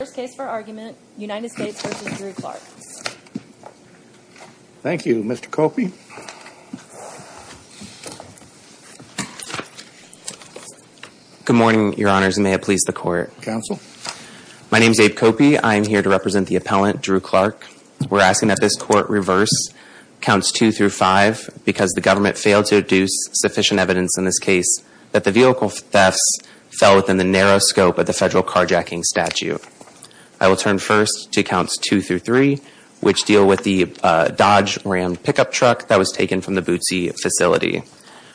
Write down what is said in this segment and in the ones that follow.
First case for argument United States v. Drew Clark Thank you Mr. Copey Good morning your honors and may it please the court Counsel My name is Abe Copey I am here to represent the appellant Drew Clark We're asking that this court reverse counts 2 through 5 because the government failed to deduce sufficient evidence in this case that the vehicle thefts fell within the narrow scope of the federal carjacking statute. I will turn first to counts 2 through 3 which deal with the Dodge Ram pickup truck that was taken from the Bootsy facility.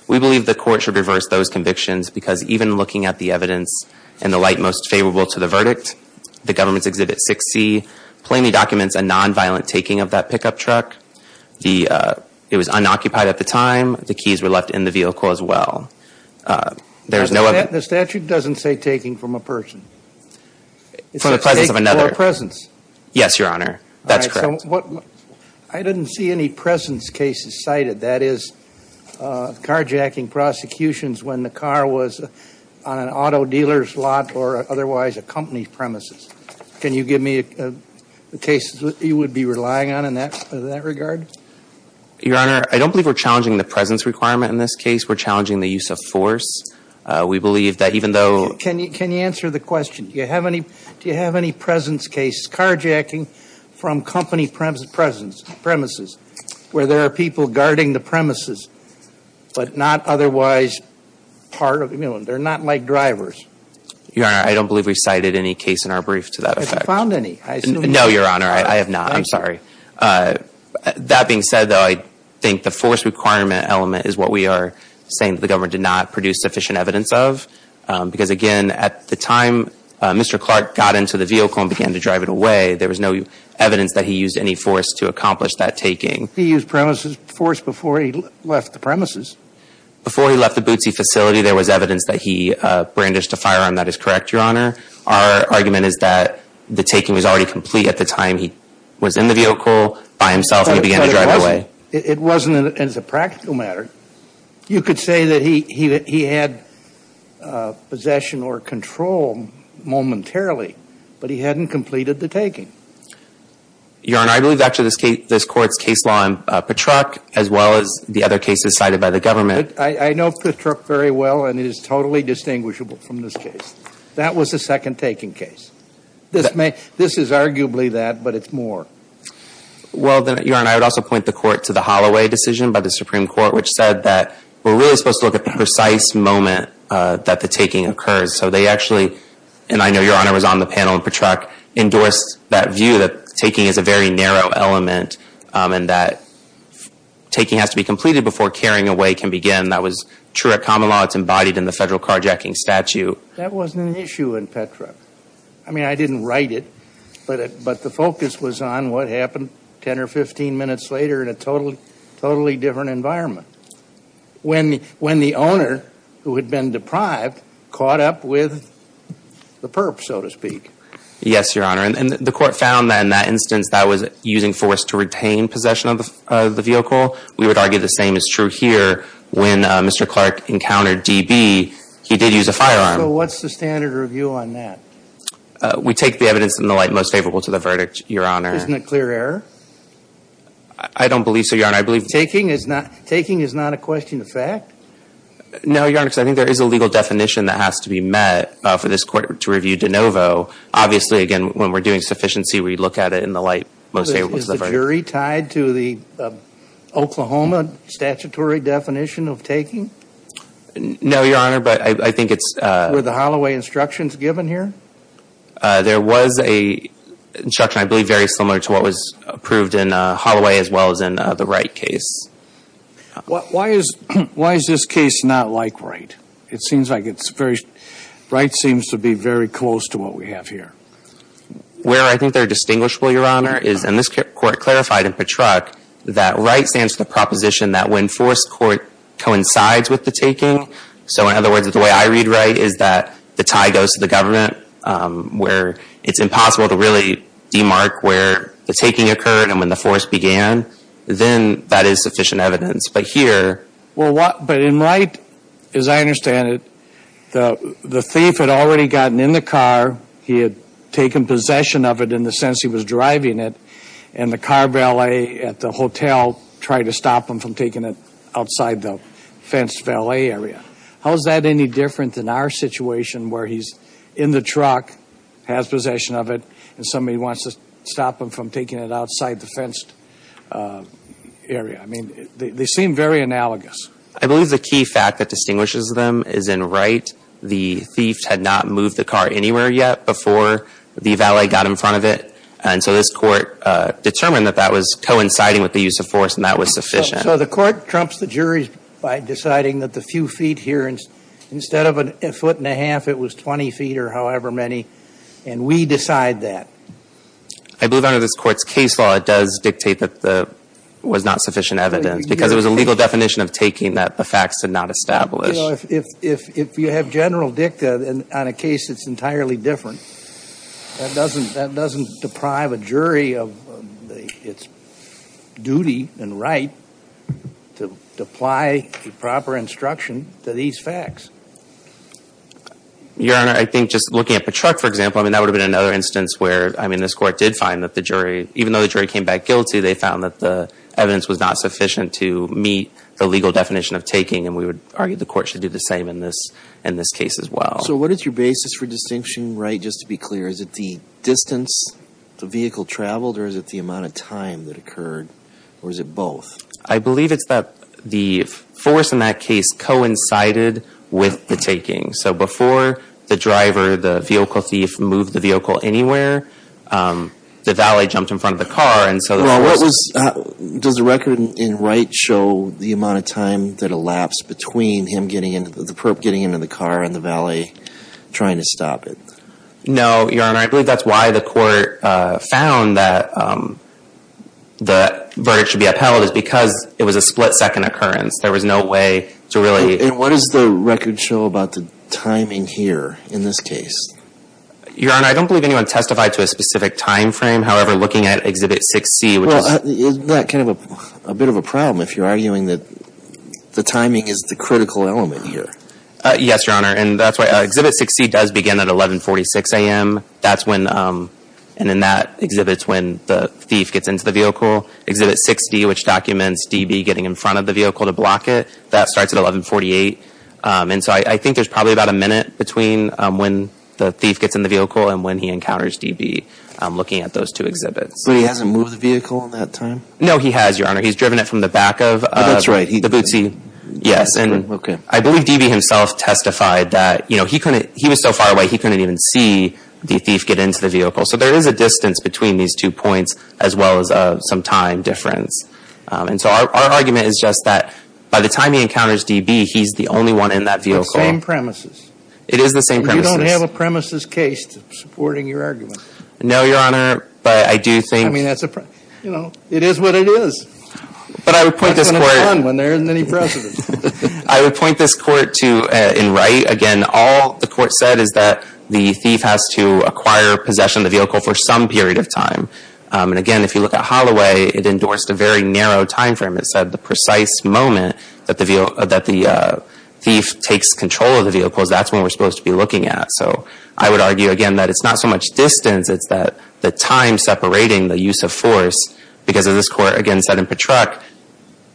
We believe the court should reverse those convictions because even looking at the evidence in the light most favorable to the verdict, the government's exhibit 6C plainly documents a nonviolent taking of that pickup truck. It was unoccupied at the time, the keys were left in the vehicle as well. The statute doesn't say taking from a person From the presence of another It says taking from a presence Yes your honor that's correct I didn't see any presence cases cited that is carjacking prosecutions when the car was on an auto dealer's lot or otherwise a company's premises. Can you give me the cases you would be relying on in that regard? Your honor I don't believe we're challenging the presence requirement in this case we're Can you answer the question? Do you have any presence cases carjacking from company premises where there are people guarding the premises but not otherwise part of, they're not like drivers Your honor I don't believe we cited any case in our brief to that effect Have you found any? No your honor I have not I'm sorry. That being said though I think the force requirement element is what we are saying the government did not produce sufficient evidence of because again at the time Mr. Clark got into the vehicle and began to drive it away there was no evidence that he used any force to accomplish that taking He used premises force before he left the premises Before he left the Bootsy facility there was evidence that he brandished a firearm that is correct your honor. Our argument is that the taking was already complete at the time he was in the vehicle by himself and he began to drive away It wasn't as a practical matter you could say that he had possession or control momentarily but he hadn't completed the taking Your honor I believe actually this court's case law in Patruck as well as the other cases cited by the government I know Patruck very well and it is totally distinguishable from this case That was the second taking case. This is arguably that but it's more Well then your honor I would also point the court to the Holloway decision by the Supreme Court which said that we're really supposed to look at the precise moment that the taking occurs So they actually and I know your honor was on the panel and Patruck endorsed that view that taking is a very narrow element and that taking has to be completed before carrying away can begin That was true at common law. It's embodied in the federal carjacking statute That wasn't an issue in Patruck. I mean I didn't write it but the focus was on what happened 10 or 15 minutes later in a totally different environment when the owner who had been deprived caught up with the perp so to speak Yes your honor and the court found that in that instance that was using force to retain possession of the vehicle We would argue the same is true here when Mr. Clark encountered DB He did use a firearm. So what's the standard review on that? We take the evidence in the light most favorable to the verdict your honor Isn't it clear error? I don't believe so your honor I believe Taking is not a question of fact No your honor because I think there is a legal definition that has to be met for this court to review de novo Obviously again when we're doing sufficiency we look at it in the light most favorable to the verdict Is the jury tied to the Oklahoma statutory definition of taking? No your honor but I think it's Were the Holloway instructions given here? There was a instruction I believe very similar to what was approved in Holloway as well as in the Wright case Why is this case not like Wright? It seems like Wright seems to be very close to what we have here Where I think they're distinguishable your honor is and this court clarified in Patruck That Wright stands for the proposition that when forced court coincides with the taking So in other words the way I read Wright is that the tie goes to the government Where it's impossible to really demark where the taking occurred and when the force began Then that is sufficient evidence but here But in Wright as I understand it The thief had already gotten in the car He had taken possession of it in the sense he was driving it And the car valet at the hotel tried to stop him from taking it outside the fenced valet area How is that any different than our situation where he's in the truck Has possession of it and somebody wants to stop him from taking it outside the fenced area I mean they seem very analogous I believe the key fact that distinguishes them is in Wright The thief had not moved the car anywhere yet before the valet got in front of it And so this court determined that that was coinciding with the use of force and that was sufficient So the court trumps the jury by deciding that the few feet here Instead of a foot and a half it was 20 feet or however many And we decide that I believe under this court's case law it does dictate that there was not sufficient evidence Because it was a legal definition of taking that the facts did not establish If you have general dicta on a case that's entirely different That doesn't deprive a jury of its duty and right to apply the proper instruction to these facts Your honor I think just looking at Patruck for example I mean that would have been another instance where I mean this court did find that the jury Even though the jury came back guilty they found that the evidence was not sufficient to meet the legal definition of taking And we would argue the court should do the same in this case as well So what is your basis for distinction Wright just to be clear Is it the distance the vehicle traveled or is it the amount of time that occurred or is it both I believe it's that the force in that case coincided with the taking So before the driver the vehicle thief moved the vehicle anywhere The valet jumped in front of the car and so Does the record in Wright show the amount of time that elapsed Between the perp getting into the car and the valet trying to stop it No your honor I believe that's why the court found that the verdict should be upheld Because it was a split second occurrence there was no way to really And what does the record show about the timing here in this case Your honor I don't believe anyone testified to a specific time frame However looking at exhibit 6C which is Well isn't that kind of a bit of a problem if you're arguing that the timing is the critical element here Yes your honor and that's why exhibit 6C does begin at 1146 a.m. That's when and then that exhibits when the thief gets into the vehicle Exhibit 6D which documents DB getting in front of the vehicle to block it That starts at 1148 and so I think there's probably about a minute between When the thief gets in the vehicle and when he encounters DB looking at those two exhibits But he hasn't moved the vehicle in that time No he has your honor he's driven it from the back of the Bootsy Yes and I believe DB himself testified that you know he couldn't he was so far away He couldn't even see the thief get into the vehicle So there is a distance between these two points as well as some time difference And so our argument is just that by the time he encounters DB he's the only one in that vehicle It's the same premises It is the same premises You don't have a premises case supporting your argument No your honor but I do think I mean that's a you know it is what it is But I would point this court There isn't any precedent I would point this court to in Wright again all the court said is that The thief has to acquire possession of the vehicle for some period of time And again if you look at Holloway it endorsed a very narrow time frame It said the precise moment that the thief takes control of the vehicle That's when we're supposed to be looking at So I would argue again that it's not so much distance It's that the time separating the use of force Because of this court again said in Patrack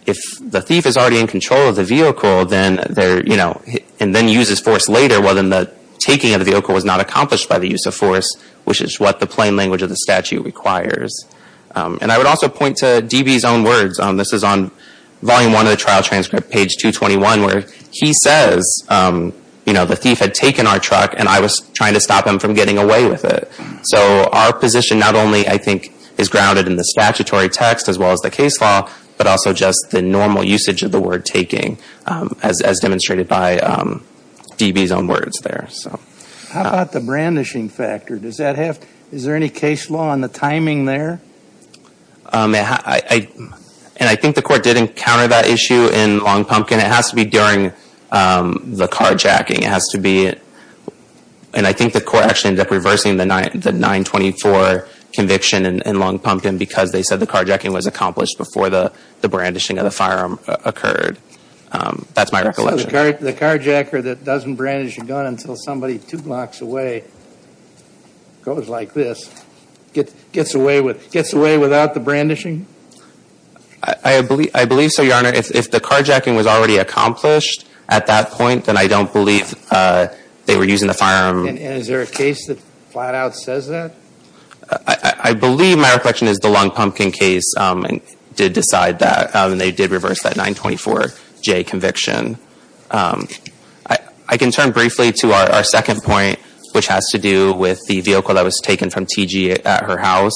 If the thief is already in control of the vehicle And then uses force later Well then the taking of the vehicle was not accomplished by the use of force Which is what the plain language of the statute requires And I would also point to DB's own words This is on volume one of the trial transcript page 221 Where he says you know the thief had taken our truck And I was trying to stop him from getting away with it So our position not only I think is grounded in the statutory text As well as the case law But also just the normal usage of the word taking As demonstrated by DB's own words there How about the brandishing factor Does that have is there any case law on the timing there And I think the court did encounter that issue in Long Pumpkin It has to be during the carjacking It has to be And I think the court actually ended up reversing the 924 conviction in Long Pumpkin Because they said the carjacking was accomplished Before the brandishing of the firearm occurred That's my recollection So the carjacker that doesn't brandish a gun Until somebody two blocks away goes like this Gets away without the brandishing I believe so your honor If the carjacking was already accomplished at that point Then I don't believe they were using the firearm And is there a case that flat out says that I believe my recollection is the Long Pumpkin case Did decide that And they did reverse that 924J conviction I can turn briefly to our second point Which has to do with the vehicle that was taken from T.G. at her house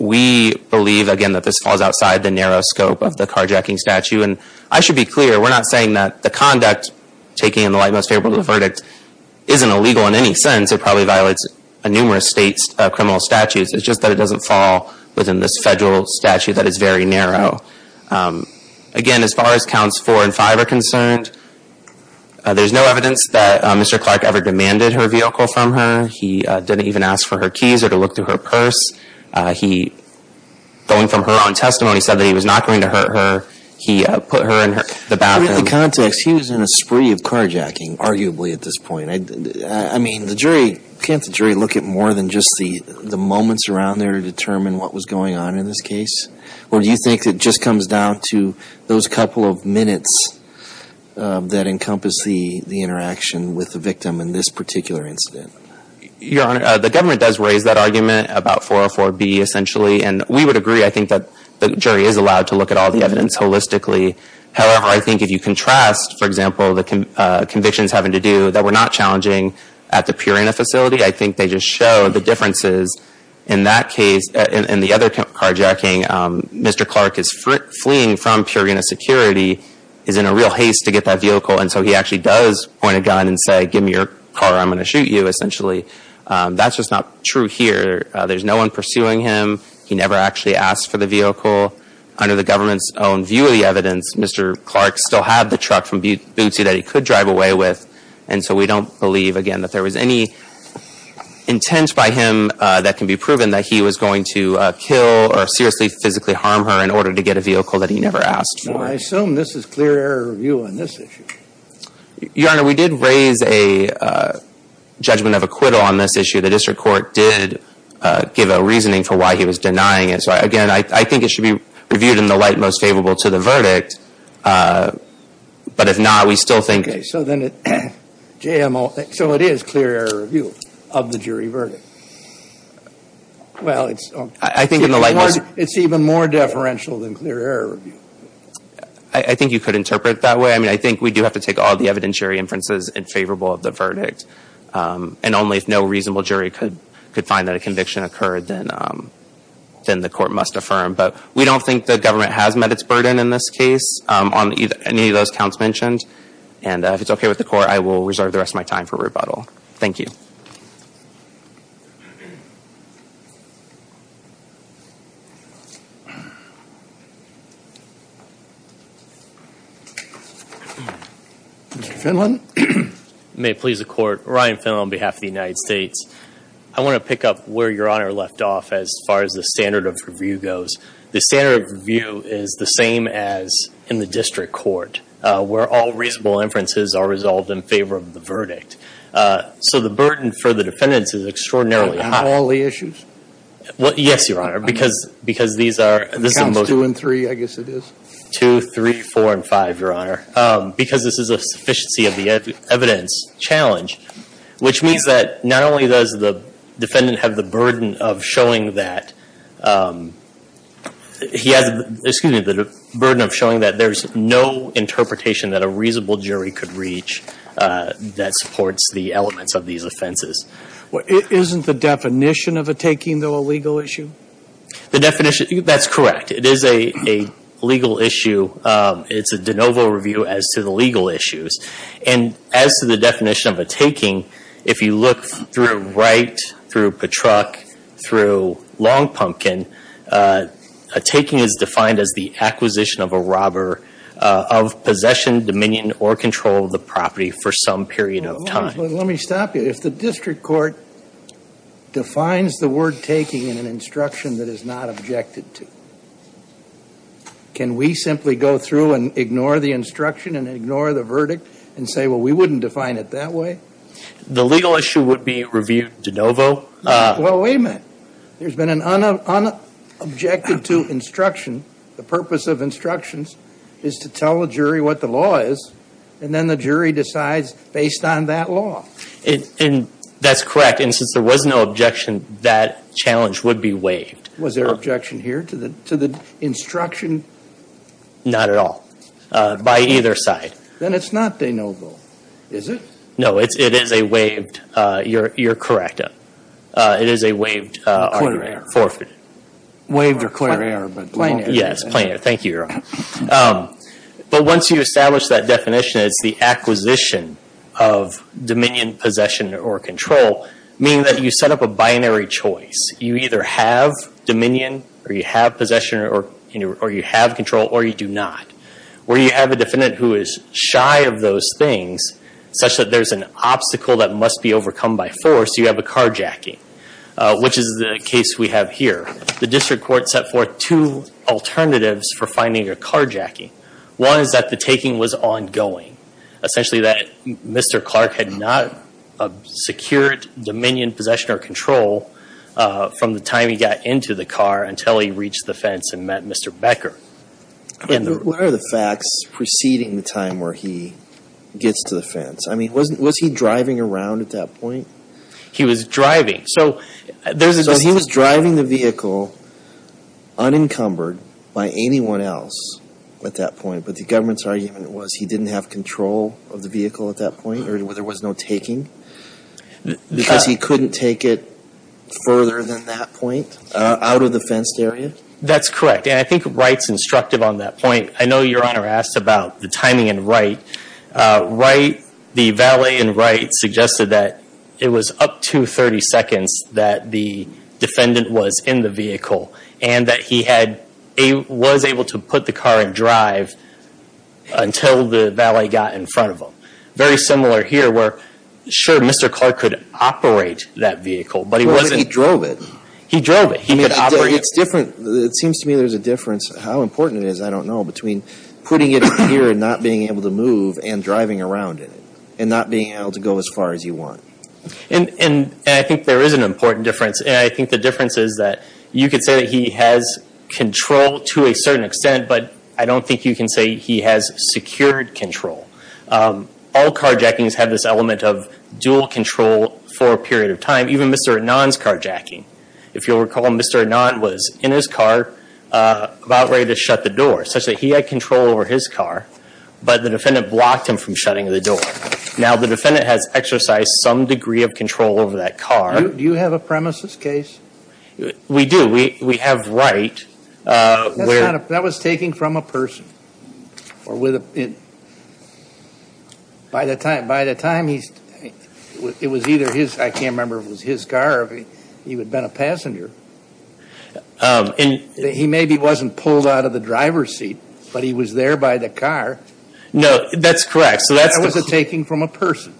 We believe again that this falls outside the narrow scope of the carjacking statute And I should be clear we're not saying that the conduct Taking in the light most favorable to the verdict Isn't illegal in any sense It probably violates numerous state criminal statutes It's just that it doesn't fall within this federal statute that is very narrow Again as far as counts 4 and 5 are concerned There's no evidence that Mr. Clark ever demanded her vehicle from her He didn't even ask for her keys or to look through her purse He going from her own testimony said that he was not going to hurt her He put her in the bathroom Given the context he was in a spree of carjacking Arguably at this point I mean the jury Can't the jury look at more than just the moments around there To determine what was going on in this case Or do you think it just comes down to those couple of minutes That encompass the interaction with the victim in this particular incident Your honor the government does raise that argument about 404B essentially And we would agree I think that the jury is allowed to look at all the evidence holistically However I think if you contrast for example The convictions having to do that were not challenging At the Purina facility I think they just show the differences in that case In the other carjacking Mr. Clark is fleeing from Purina security Is in a real haste to get that vehicle And so he actually does point a gun and say Give me your car or I'm going to shoot you essentially That's just not true here There's no one pursuing him He never actually asked for the vehicle Under the government's own view of the evidence Mr. Clark still had the truck from Bootsy that he could drive away with And so we don't believe again that there was any Intent by him That can be proven that he was going to kill Or seriously physically harm her In order to get a vehicle that he never asked for I assume this is clear error review on this issue Your honor we did raise a Judgment of acquittal on this issue The district court did Give a reasoning for why he was denying it So again I think it should be Reviewed in the light most favorable to the verdict But if not we still think Okay so then it JMO So it is clear error review Of the jury verdict Well it's I think in the light most It's even more deferential than clear error review I think you could interpret that way I mean I think we do have to take all the evidentiary inferences In favorable of the verdict And only if no reasonable jury could Could find that a conviction occurred then Then the court must affirm But we don't think the government has met its burden in this case On any of those counts mentioned And if it's okay with the court I will reserve the rest of my time for rebuttal Thank you Mr. Finlan May it please the court Ryan Finlan on behalf of the United States I want to pick up where your honor left off As far as the standard of review goes The standard of review is the same as In the district court Where all reasonable inferences are resolved in favor of the verdict So the burden for the defendants is extraordinarily high On all the issues Well yes your honor because Because these are The counts two and three I guess it is Two, three, four and five your honor Because this is a sufficiency of the evidence challenge Which means that not only does the Defendant have the burden of showing that He has, excuse me The burden of showing that there is no Interpretation that a reasonable jury could reach That supports the elements of these offenses Well isn't the definition of a taking though a legal issue The definition, that's correct It is a legal issue It's a de novo review as to the legal issues And as to the definition of a taking If you look through Wright Through Patruck Through Long Pumpkin A taking is defined as the acquisition of a robber Of possession, dominion or control of the property For some period of time Let me stop you If the district court Defines the word taking in an instruction That is not objected to Can we simply go through and ignore the instruction And ignore the verdict And say well we wouldn't define it that way The legal issue would be reviewed de novo Well wait a minute There's been an unobjected to instruction The purpose of instructions Is to tell a jury what the law is And then the jury decides based on that law And that's correct And since there was no objection That challenge would be waived Was there objection here to the instruction? Not at all By either side Then it's not de novo Is it? No, it is a waived You're correct It is a waived argument Forfeit Waived or clear error Yes, plain error Thank you, Your Honor But once you establish that definition It's the acquisition of dominion, possession or control Meaning that you set up a binary choice You either have dominion Or you have possession Or you have control Or you do not Where you have a defendant who is shy of those things Such that there's an obstacle that must be overcome by force You have a carjacking Which is the case we have here The district court set forth two alternatives For finding a carjacking One is that the taking was ongoing Essentially that Mr. Clark had not Secured dominion, possession or control From the time he got into the car Until he reached the fence and met Mr. Becker What are the facts preceding the time where he Gets to the fence? I mean, was he driving around at that point? He was driving So there's a So he was driving the vehicle Unencumbered By anyone else At that point But the government's argument was He didn't have control of the vehicle at that point Or there was no taking Because he couldn't take it further than that point Out of the fenced area? That's correct And I think Wright's instructive on that point I know Your Honor asked about the timing in Wright Wright The valet in Wright suggested that It was up to 30 seconds That the defendant was in the vehicle And that he had Was able to put the car in drive Until the valet got in front of him Very similar here where Sure, Mr. Clark could operate that vehicle But he wasn't Well, he drove it He drove it He could operate it It's different It seems to me there's a difference How important it is, I don't know Between putting it here and not being able to move And driving around in it And not being able to go as far as you want And I think there is an important difference And I think the difference is that You could say that he has control to a certain extent But I don't think you can say he has secured control All carjackings have this element of Dual control for a period of time Even Mr. Anand's carjacking If you'll recall, Mr. Anand was in his car About ready to shut the door Such that he had control over his car But the defendant blocked him from shutting the door Now the defendant has exercised some degree of control over that car Do you have a premises case? We do, we have Wright That was taken from a person By the time he It was either his, I can't remember if it was his car Or if he had been a passenger He maybe wasn't pulled out of the driver's seat But he was there by the car No, that's correct That was a taking from a person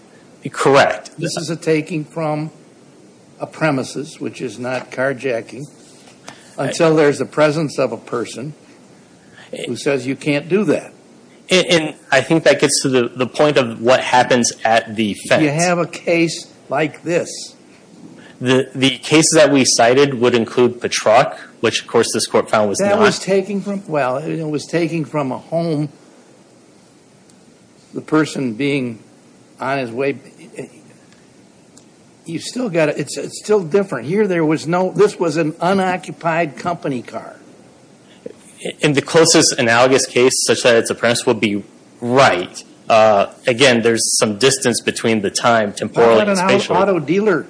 Correct This is a taking from a premises Which is not carjacking Until there's a presence of a person Who says you can't do that And I think that gets to the point of what happens at the fence You have a case like this The case that we cited would include the truck Which of course this court found was not That was taking from, well it was taking from a home The person being on his way You still gotta, it's still different Here there was no, this was an unoccupied company car In the closest analogous case such that it's a premise Would be Wright Again, there's some distance between the time, temporal and spatial What about an auto dealer?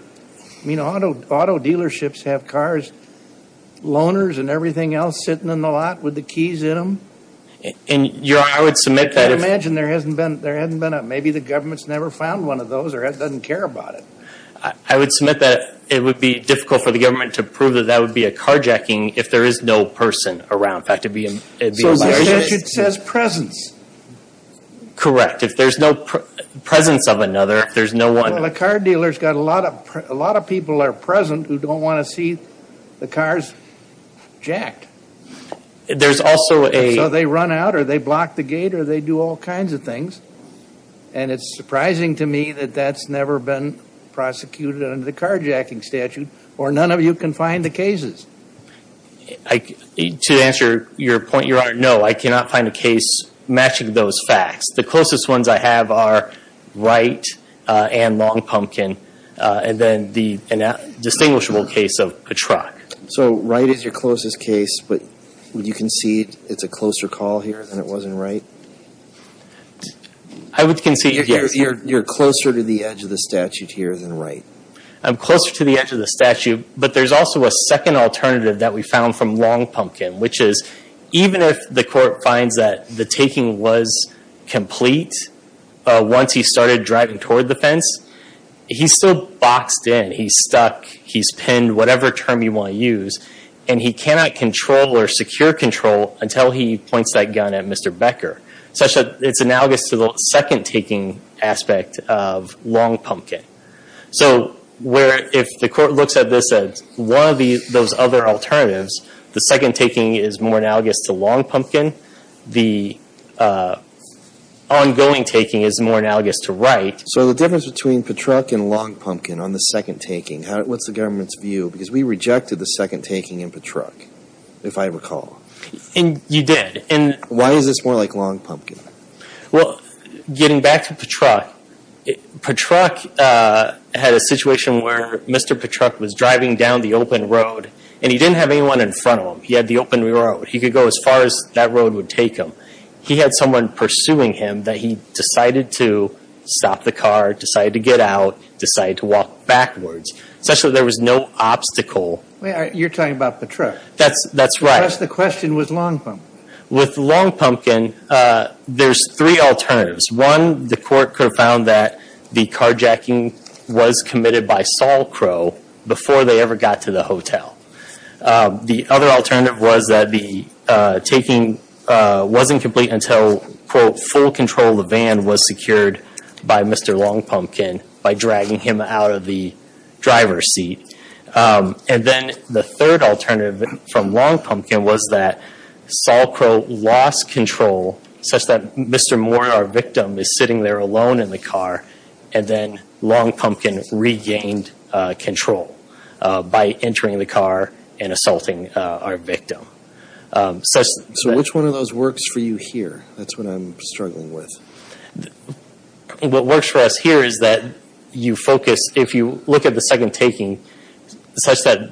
I mean, auto dealerships have cars Loaners and everything else sitting in the lot with the keys in them Your Honor, I would submit that I imagine there hasn't been, maybe the government's never found one of those Or doesn't care about it I would submit that it would be difficult for the government To prove that that would be a carjacking If there is no person around So the statute says presence Correct, if there's no presence of another If there's no one Well a car dealer's got a lot of people are present Who don't want to see the cars jacked There's also a So they run out or they block the gate Or they do all kinds of things And it's surprising to me that that's never been Prosecuted under the carjacking statute Or none of you can find the cases To answer your point, Your Honor, no I cannot find a case matching those facts The closest ones I have are Wright and Long Pumpkin And then the distinguishable case of Petrach So Wright is your closest case But would you concede it's a closer call here than it was in Wright? I would concede yes You're closer to the edge of the statute here than Wright I'm closer to the edge of the statute But there's also a second alternative that we found from Long Pumpkin Which is even if the court finds that the taking was complete Once he started driving toward the fence He's still boxed in, he's stuck He's pinned, whatever term you want to use And he cannot control or secure control Until he points that gun at Mr. Becker So it's analogous to the second taking aspect of Long Pumpkin So if the court looks at this as one of those other alternatives The second taking is more analogous to Long Pumpkin The ongoing taking is more analogous to Wright So the difference between Petrach and Long Pumpkin on the second taking What's the government's view? Because we rejected the second taking in Petrach, if I recall You did Why is this more like Long Pumpkin? Well, getting back to Petrach Petrach had a situation where Mr. Petrach was driving down the open road And he didn't have anyone in front of him He had the open road He could go as far as that road would take him He had someone pursuing him that he decided to stop the car Decided to get out, decided to walk backwards So there was no obstacle You're talking about Petrach That's right The question was Long Pumpkin With Long Pumpkin, there's three alternatives One, the court could have found that the carjacking was committed by Saul Crow Before they ever got to the hotel The other alternative was that the taking wasn't complete until Full control of the van was secured by Mr. Long Pumpkin By dragging him out of the driver's seat And then the third alternative from Long Pumpkin was that Saul Crow lost control such that Mr. Moore, our victim, is sitting there alone in the car And then Long Pumpkin regained control By entering the car and assaulting our victim So which one of those works for you here? That's what I'm struggling with What works for us here is that you focus If you look at the second taking Such that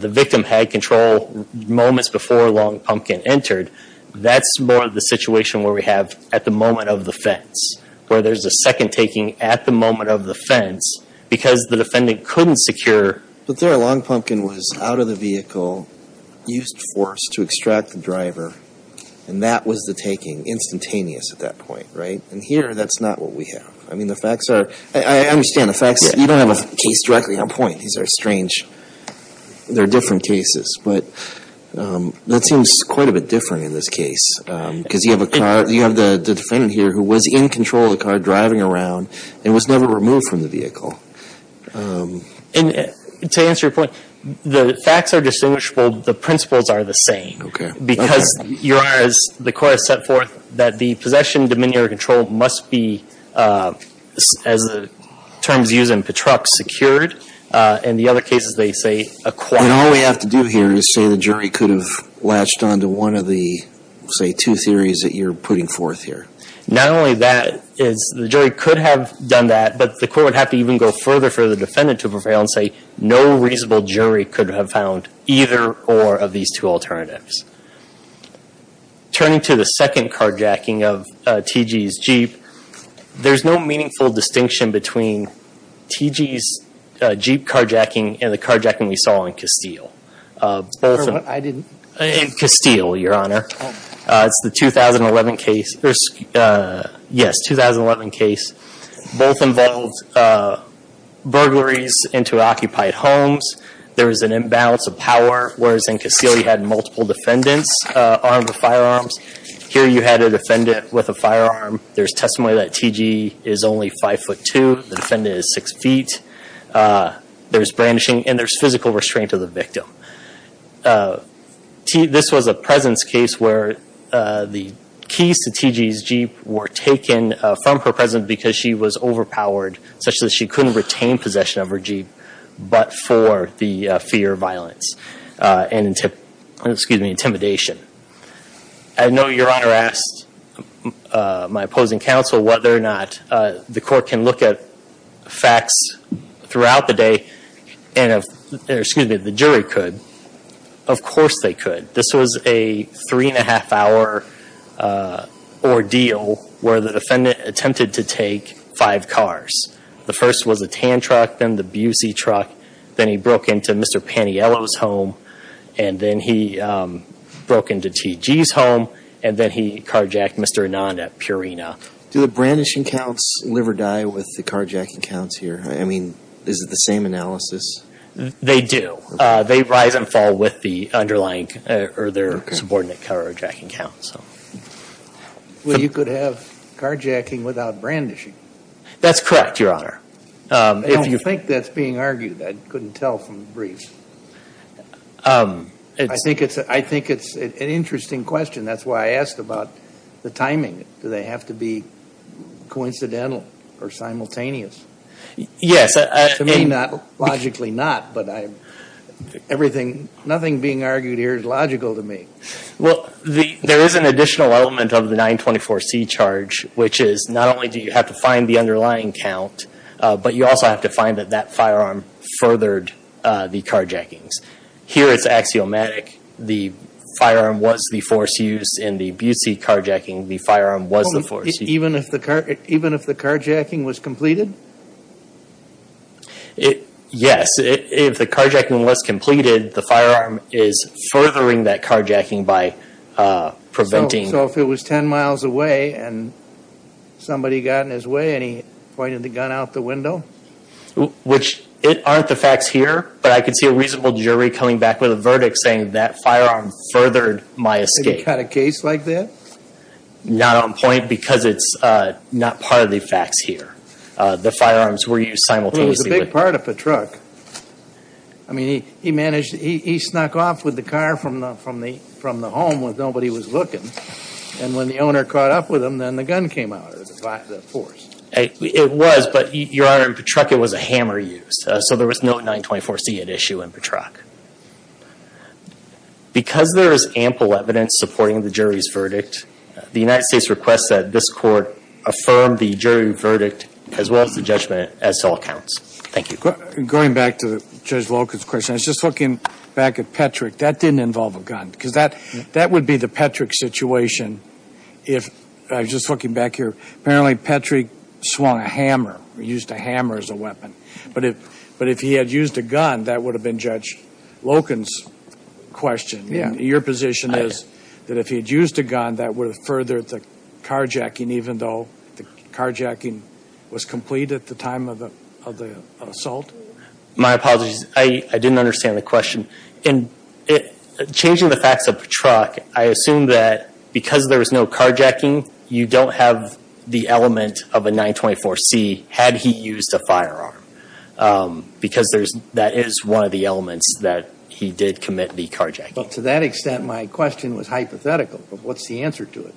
the victim had control moments before Long Pumpkin entered That's more the situation where we have at the moment of the fence Where there's a second taking at the moment of the fence Because the defendant couldn't secure But there Long Pumpkin was out of the vehicle Used force to extract the driver And that was the taking, instantaneous at that point, right? And here that's not what we have I mean the facts are I understand the facts You don't have a case directly on point These are strange They're different cases But that seems quite a bit different in this case Because you have a car You have the defendant here who was in control of the car Driving around And was never removed from the vehicle And to answer your point The facts are distinguishable The principles are the same Because you are, as the court has set forth That the possession, dominion, or control must be As the terms used in Petruk secured In the other cases they say acquired And all we have to do here is say the jury could have Latched on to one of the Say two theories that you're putting forth here Not only that The jury could have done that But the court would have to even go further for the defendant to prevail And say no reasonable jury could have found Either or of these two alternatives Turning to the second carjacking of T.G.'s Jeep There's no meaningful distinction between T.G.'s Jeep carjacking And the carjacking we saw in Castile I didn't In Castile, your honor It's the 2011 case Yes, 2011 case Both involved Burglaries into occupied homes There was an imbalance of power Whereas in Castile you had multiple defendants Armed with firearms Here you had a defendant with a firearm There's testimony that T.G. is only five foot two The defendant is six feet There's brandishing and there's physical restraint of the victim This was a presence case where The keys to T.G.'s Jeep were taken From her presence because she was overpowered Such that she couldn't retain possession of her Jeep But for the fear of violence And intimidation I know your honor asked My opposing counsel whether or not The court can look at facts Throughout the day And if Excuse me, the jury could Of course they could This was a three and a half hour Ordeal Where the defendant attempted to take five cars The first was a tan truck Then the busy truck Then he broke into Mr. Paniello's home And then he Broke into T.G.'s home And then he carjacked Mr. Ananda, Purina Do the brandishing counts live or die With the carjacking counts here? I mean, is it the same analysis? They do They rise and fall with the underlying Or their subordinate carjacking counts Well, you could have carjacking without brandishing That's correct, your honor I don't think that's being argued I couldn't tell from the brief I think it's an interesting question That's why I asked about the timing Do they have to be coincidental or simultaneous? Yes To me, logically not But I Everything Nothing being argued here is logical to me Well, there is an additional element of the 924C charge Which is not only do you have to find the underlying count But you also have to find that that firearm Furthered the carjackings Here it's axiomatic The firearm was the force used in the Busey carjacking The firearm was the force used Even if the carjacking was completed? Yes If the carjacking was completed The firearm is furthering that carjacking by preventing So if it was 10 miles away And somebody got in his way And he pointed the gun out the window? Which aren't the facts here But I could see a reasonable jury coming back with a verdict Saying that firearm furthered my escape They cut a case like that? Not on point Because it's not part of the facts here The firearms were used simultaneously It was a big part of Patruck I mean, he managed He snuck off with the car from the home when nobody was looking And when the owner caught up with him Then the gun came out of the force It was But, Your Honor, in Patruck it was a hammer used So there was no 924C at issue in Patruck Because there is ample evidence supporting the jury's verdict The United States requests that this court Affirm the jury verdict As well as the judgment as to all counts Thank you Going back to Judge Volkin's question I was just looking back at Petrick That didn't involve a gun Because that would be the Petrick situation If I was just looking back here Apparently Petrick swung a hammer Used a hammer as a weapon But if he had used a gun That would have been Judge Loken's question Your position is That if he had used a gun That would have furthered the carjacking Even though the carjacking was complete at the time of the assault? My apologies I didn't understand the question In changing the facts of Patruck I assume that Because there was no carjacking You don't have the element of a 924C Had he used a firearm Because that is one of the elements That he did commit the carjacking But to that extent My question was hypothetical But what's the answer to it?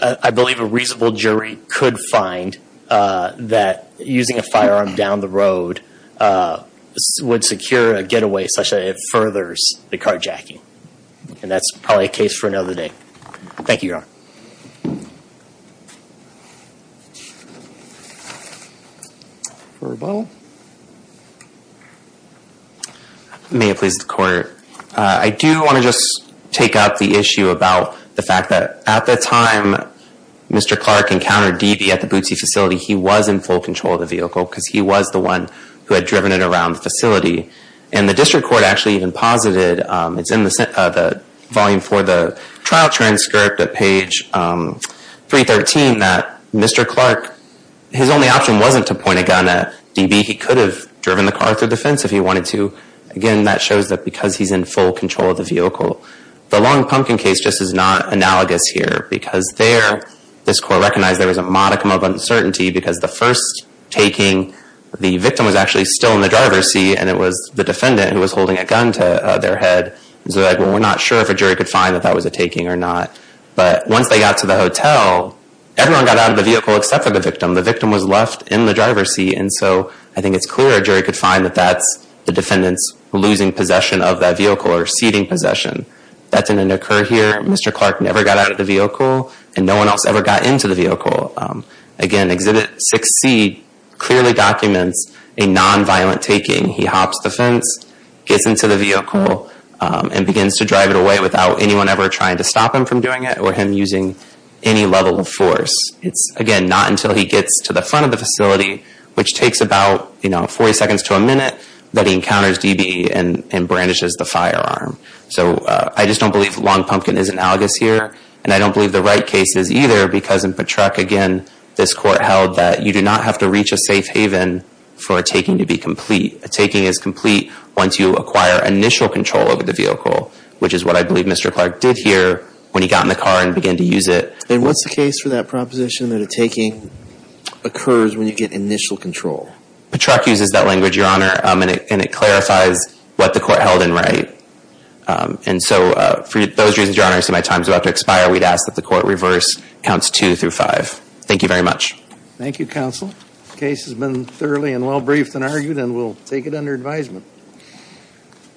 I believe a reasonable jury could find That using a firearm down the road Would secure a getaway Such that it furthers the carjacking And that's probably a case for another day Thank you, Your Honor Verbal May it please the Court I do want to just take out the issue About the fact that At the time Mr. Clark encountered Deavy at the Bootsy facility He was in full control of the vehicle Because he was the one Who had driven it around the facility And the District Court actually even posited It's in the volume 4 of the trial transcript At page 313 That Mr. Clark His only option wasn't to point a gun at Deavy He could have driven the car through the fence If he wanted to Again, that shows that Because he's in full control of the vehicle The Long Pumpkin case just is not analogous here Because there This Court recognized There was a modicum of uncertainty Because the first taking The victim was actually still in the driver's seat And it was the defendant Who was holding a gun to their head So we're not sure if a jury could find That that was a taking or not But once they got to the hotel Everyone got out of the vehicle Except for the victim The victim was left in the driver's seat And so I think it's clear A jury could find that that's The defendant's losing possession of that vehicle Or ceding possession That didn't occur here Mr. Clark never got out of the vehicle And no one else ever got into the vehicle Again, Exhibit 6C Clearly documents a non-violent taking He hops the fence Gets into the vehicle And begins to drive it away Without anyone ever trying to stop him from doing it Or him using any level of force It's, again Not until he gets to the front of the facility Which takes about, you know 40 seconds to a minute That he encounters D.B. And brandishes the firearm So I just don't believe Long Pumpkin is analogous here And I don't believe the right case is either Because in Patrack, again This Court held that You do not have to reach a safe haven For a taking to be complete A taking is complete Once you acquire initial control over the vehicle Which is what I believe Mr. Clark did here When he got in the car and began to use it And what's the case for that proposition That a taking occurs when you get initial control? Patrack uses that language, Your Honor And it clarifies what the Court held in write And so, for those reasons, Your Honor I see my time is about to expire We'd ask that the Court reverse Counts 2 through 5 Thank you very much Thank you, Counsel Case has been thoroughly and well briefed and argued And we'll take it under advisement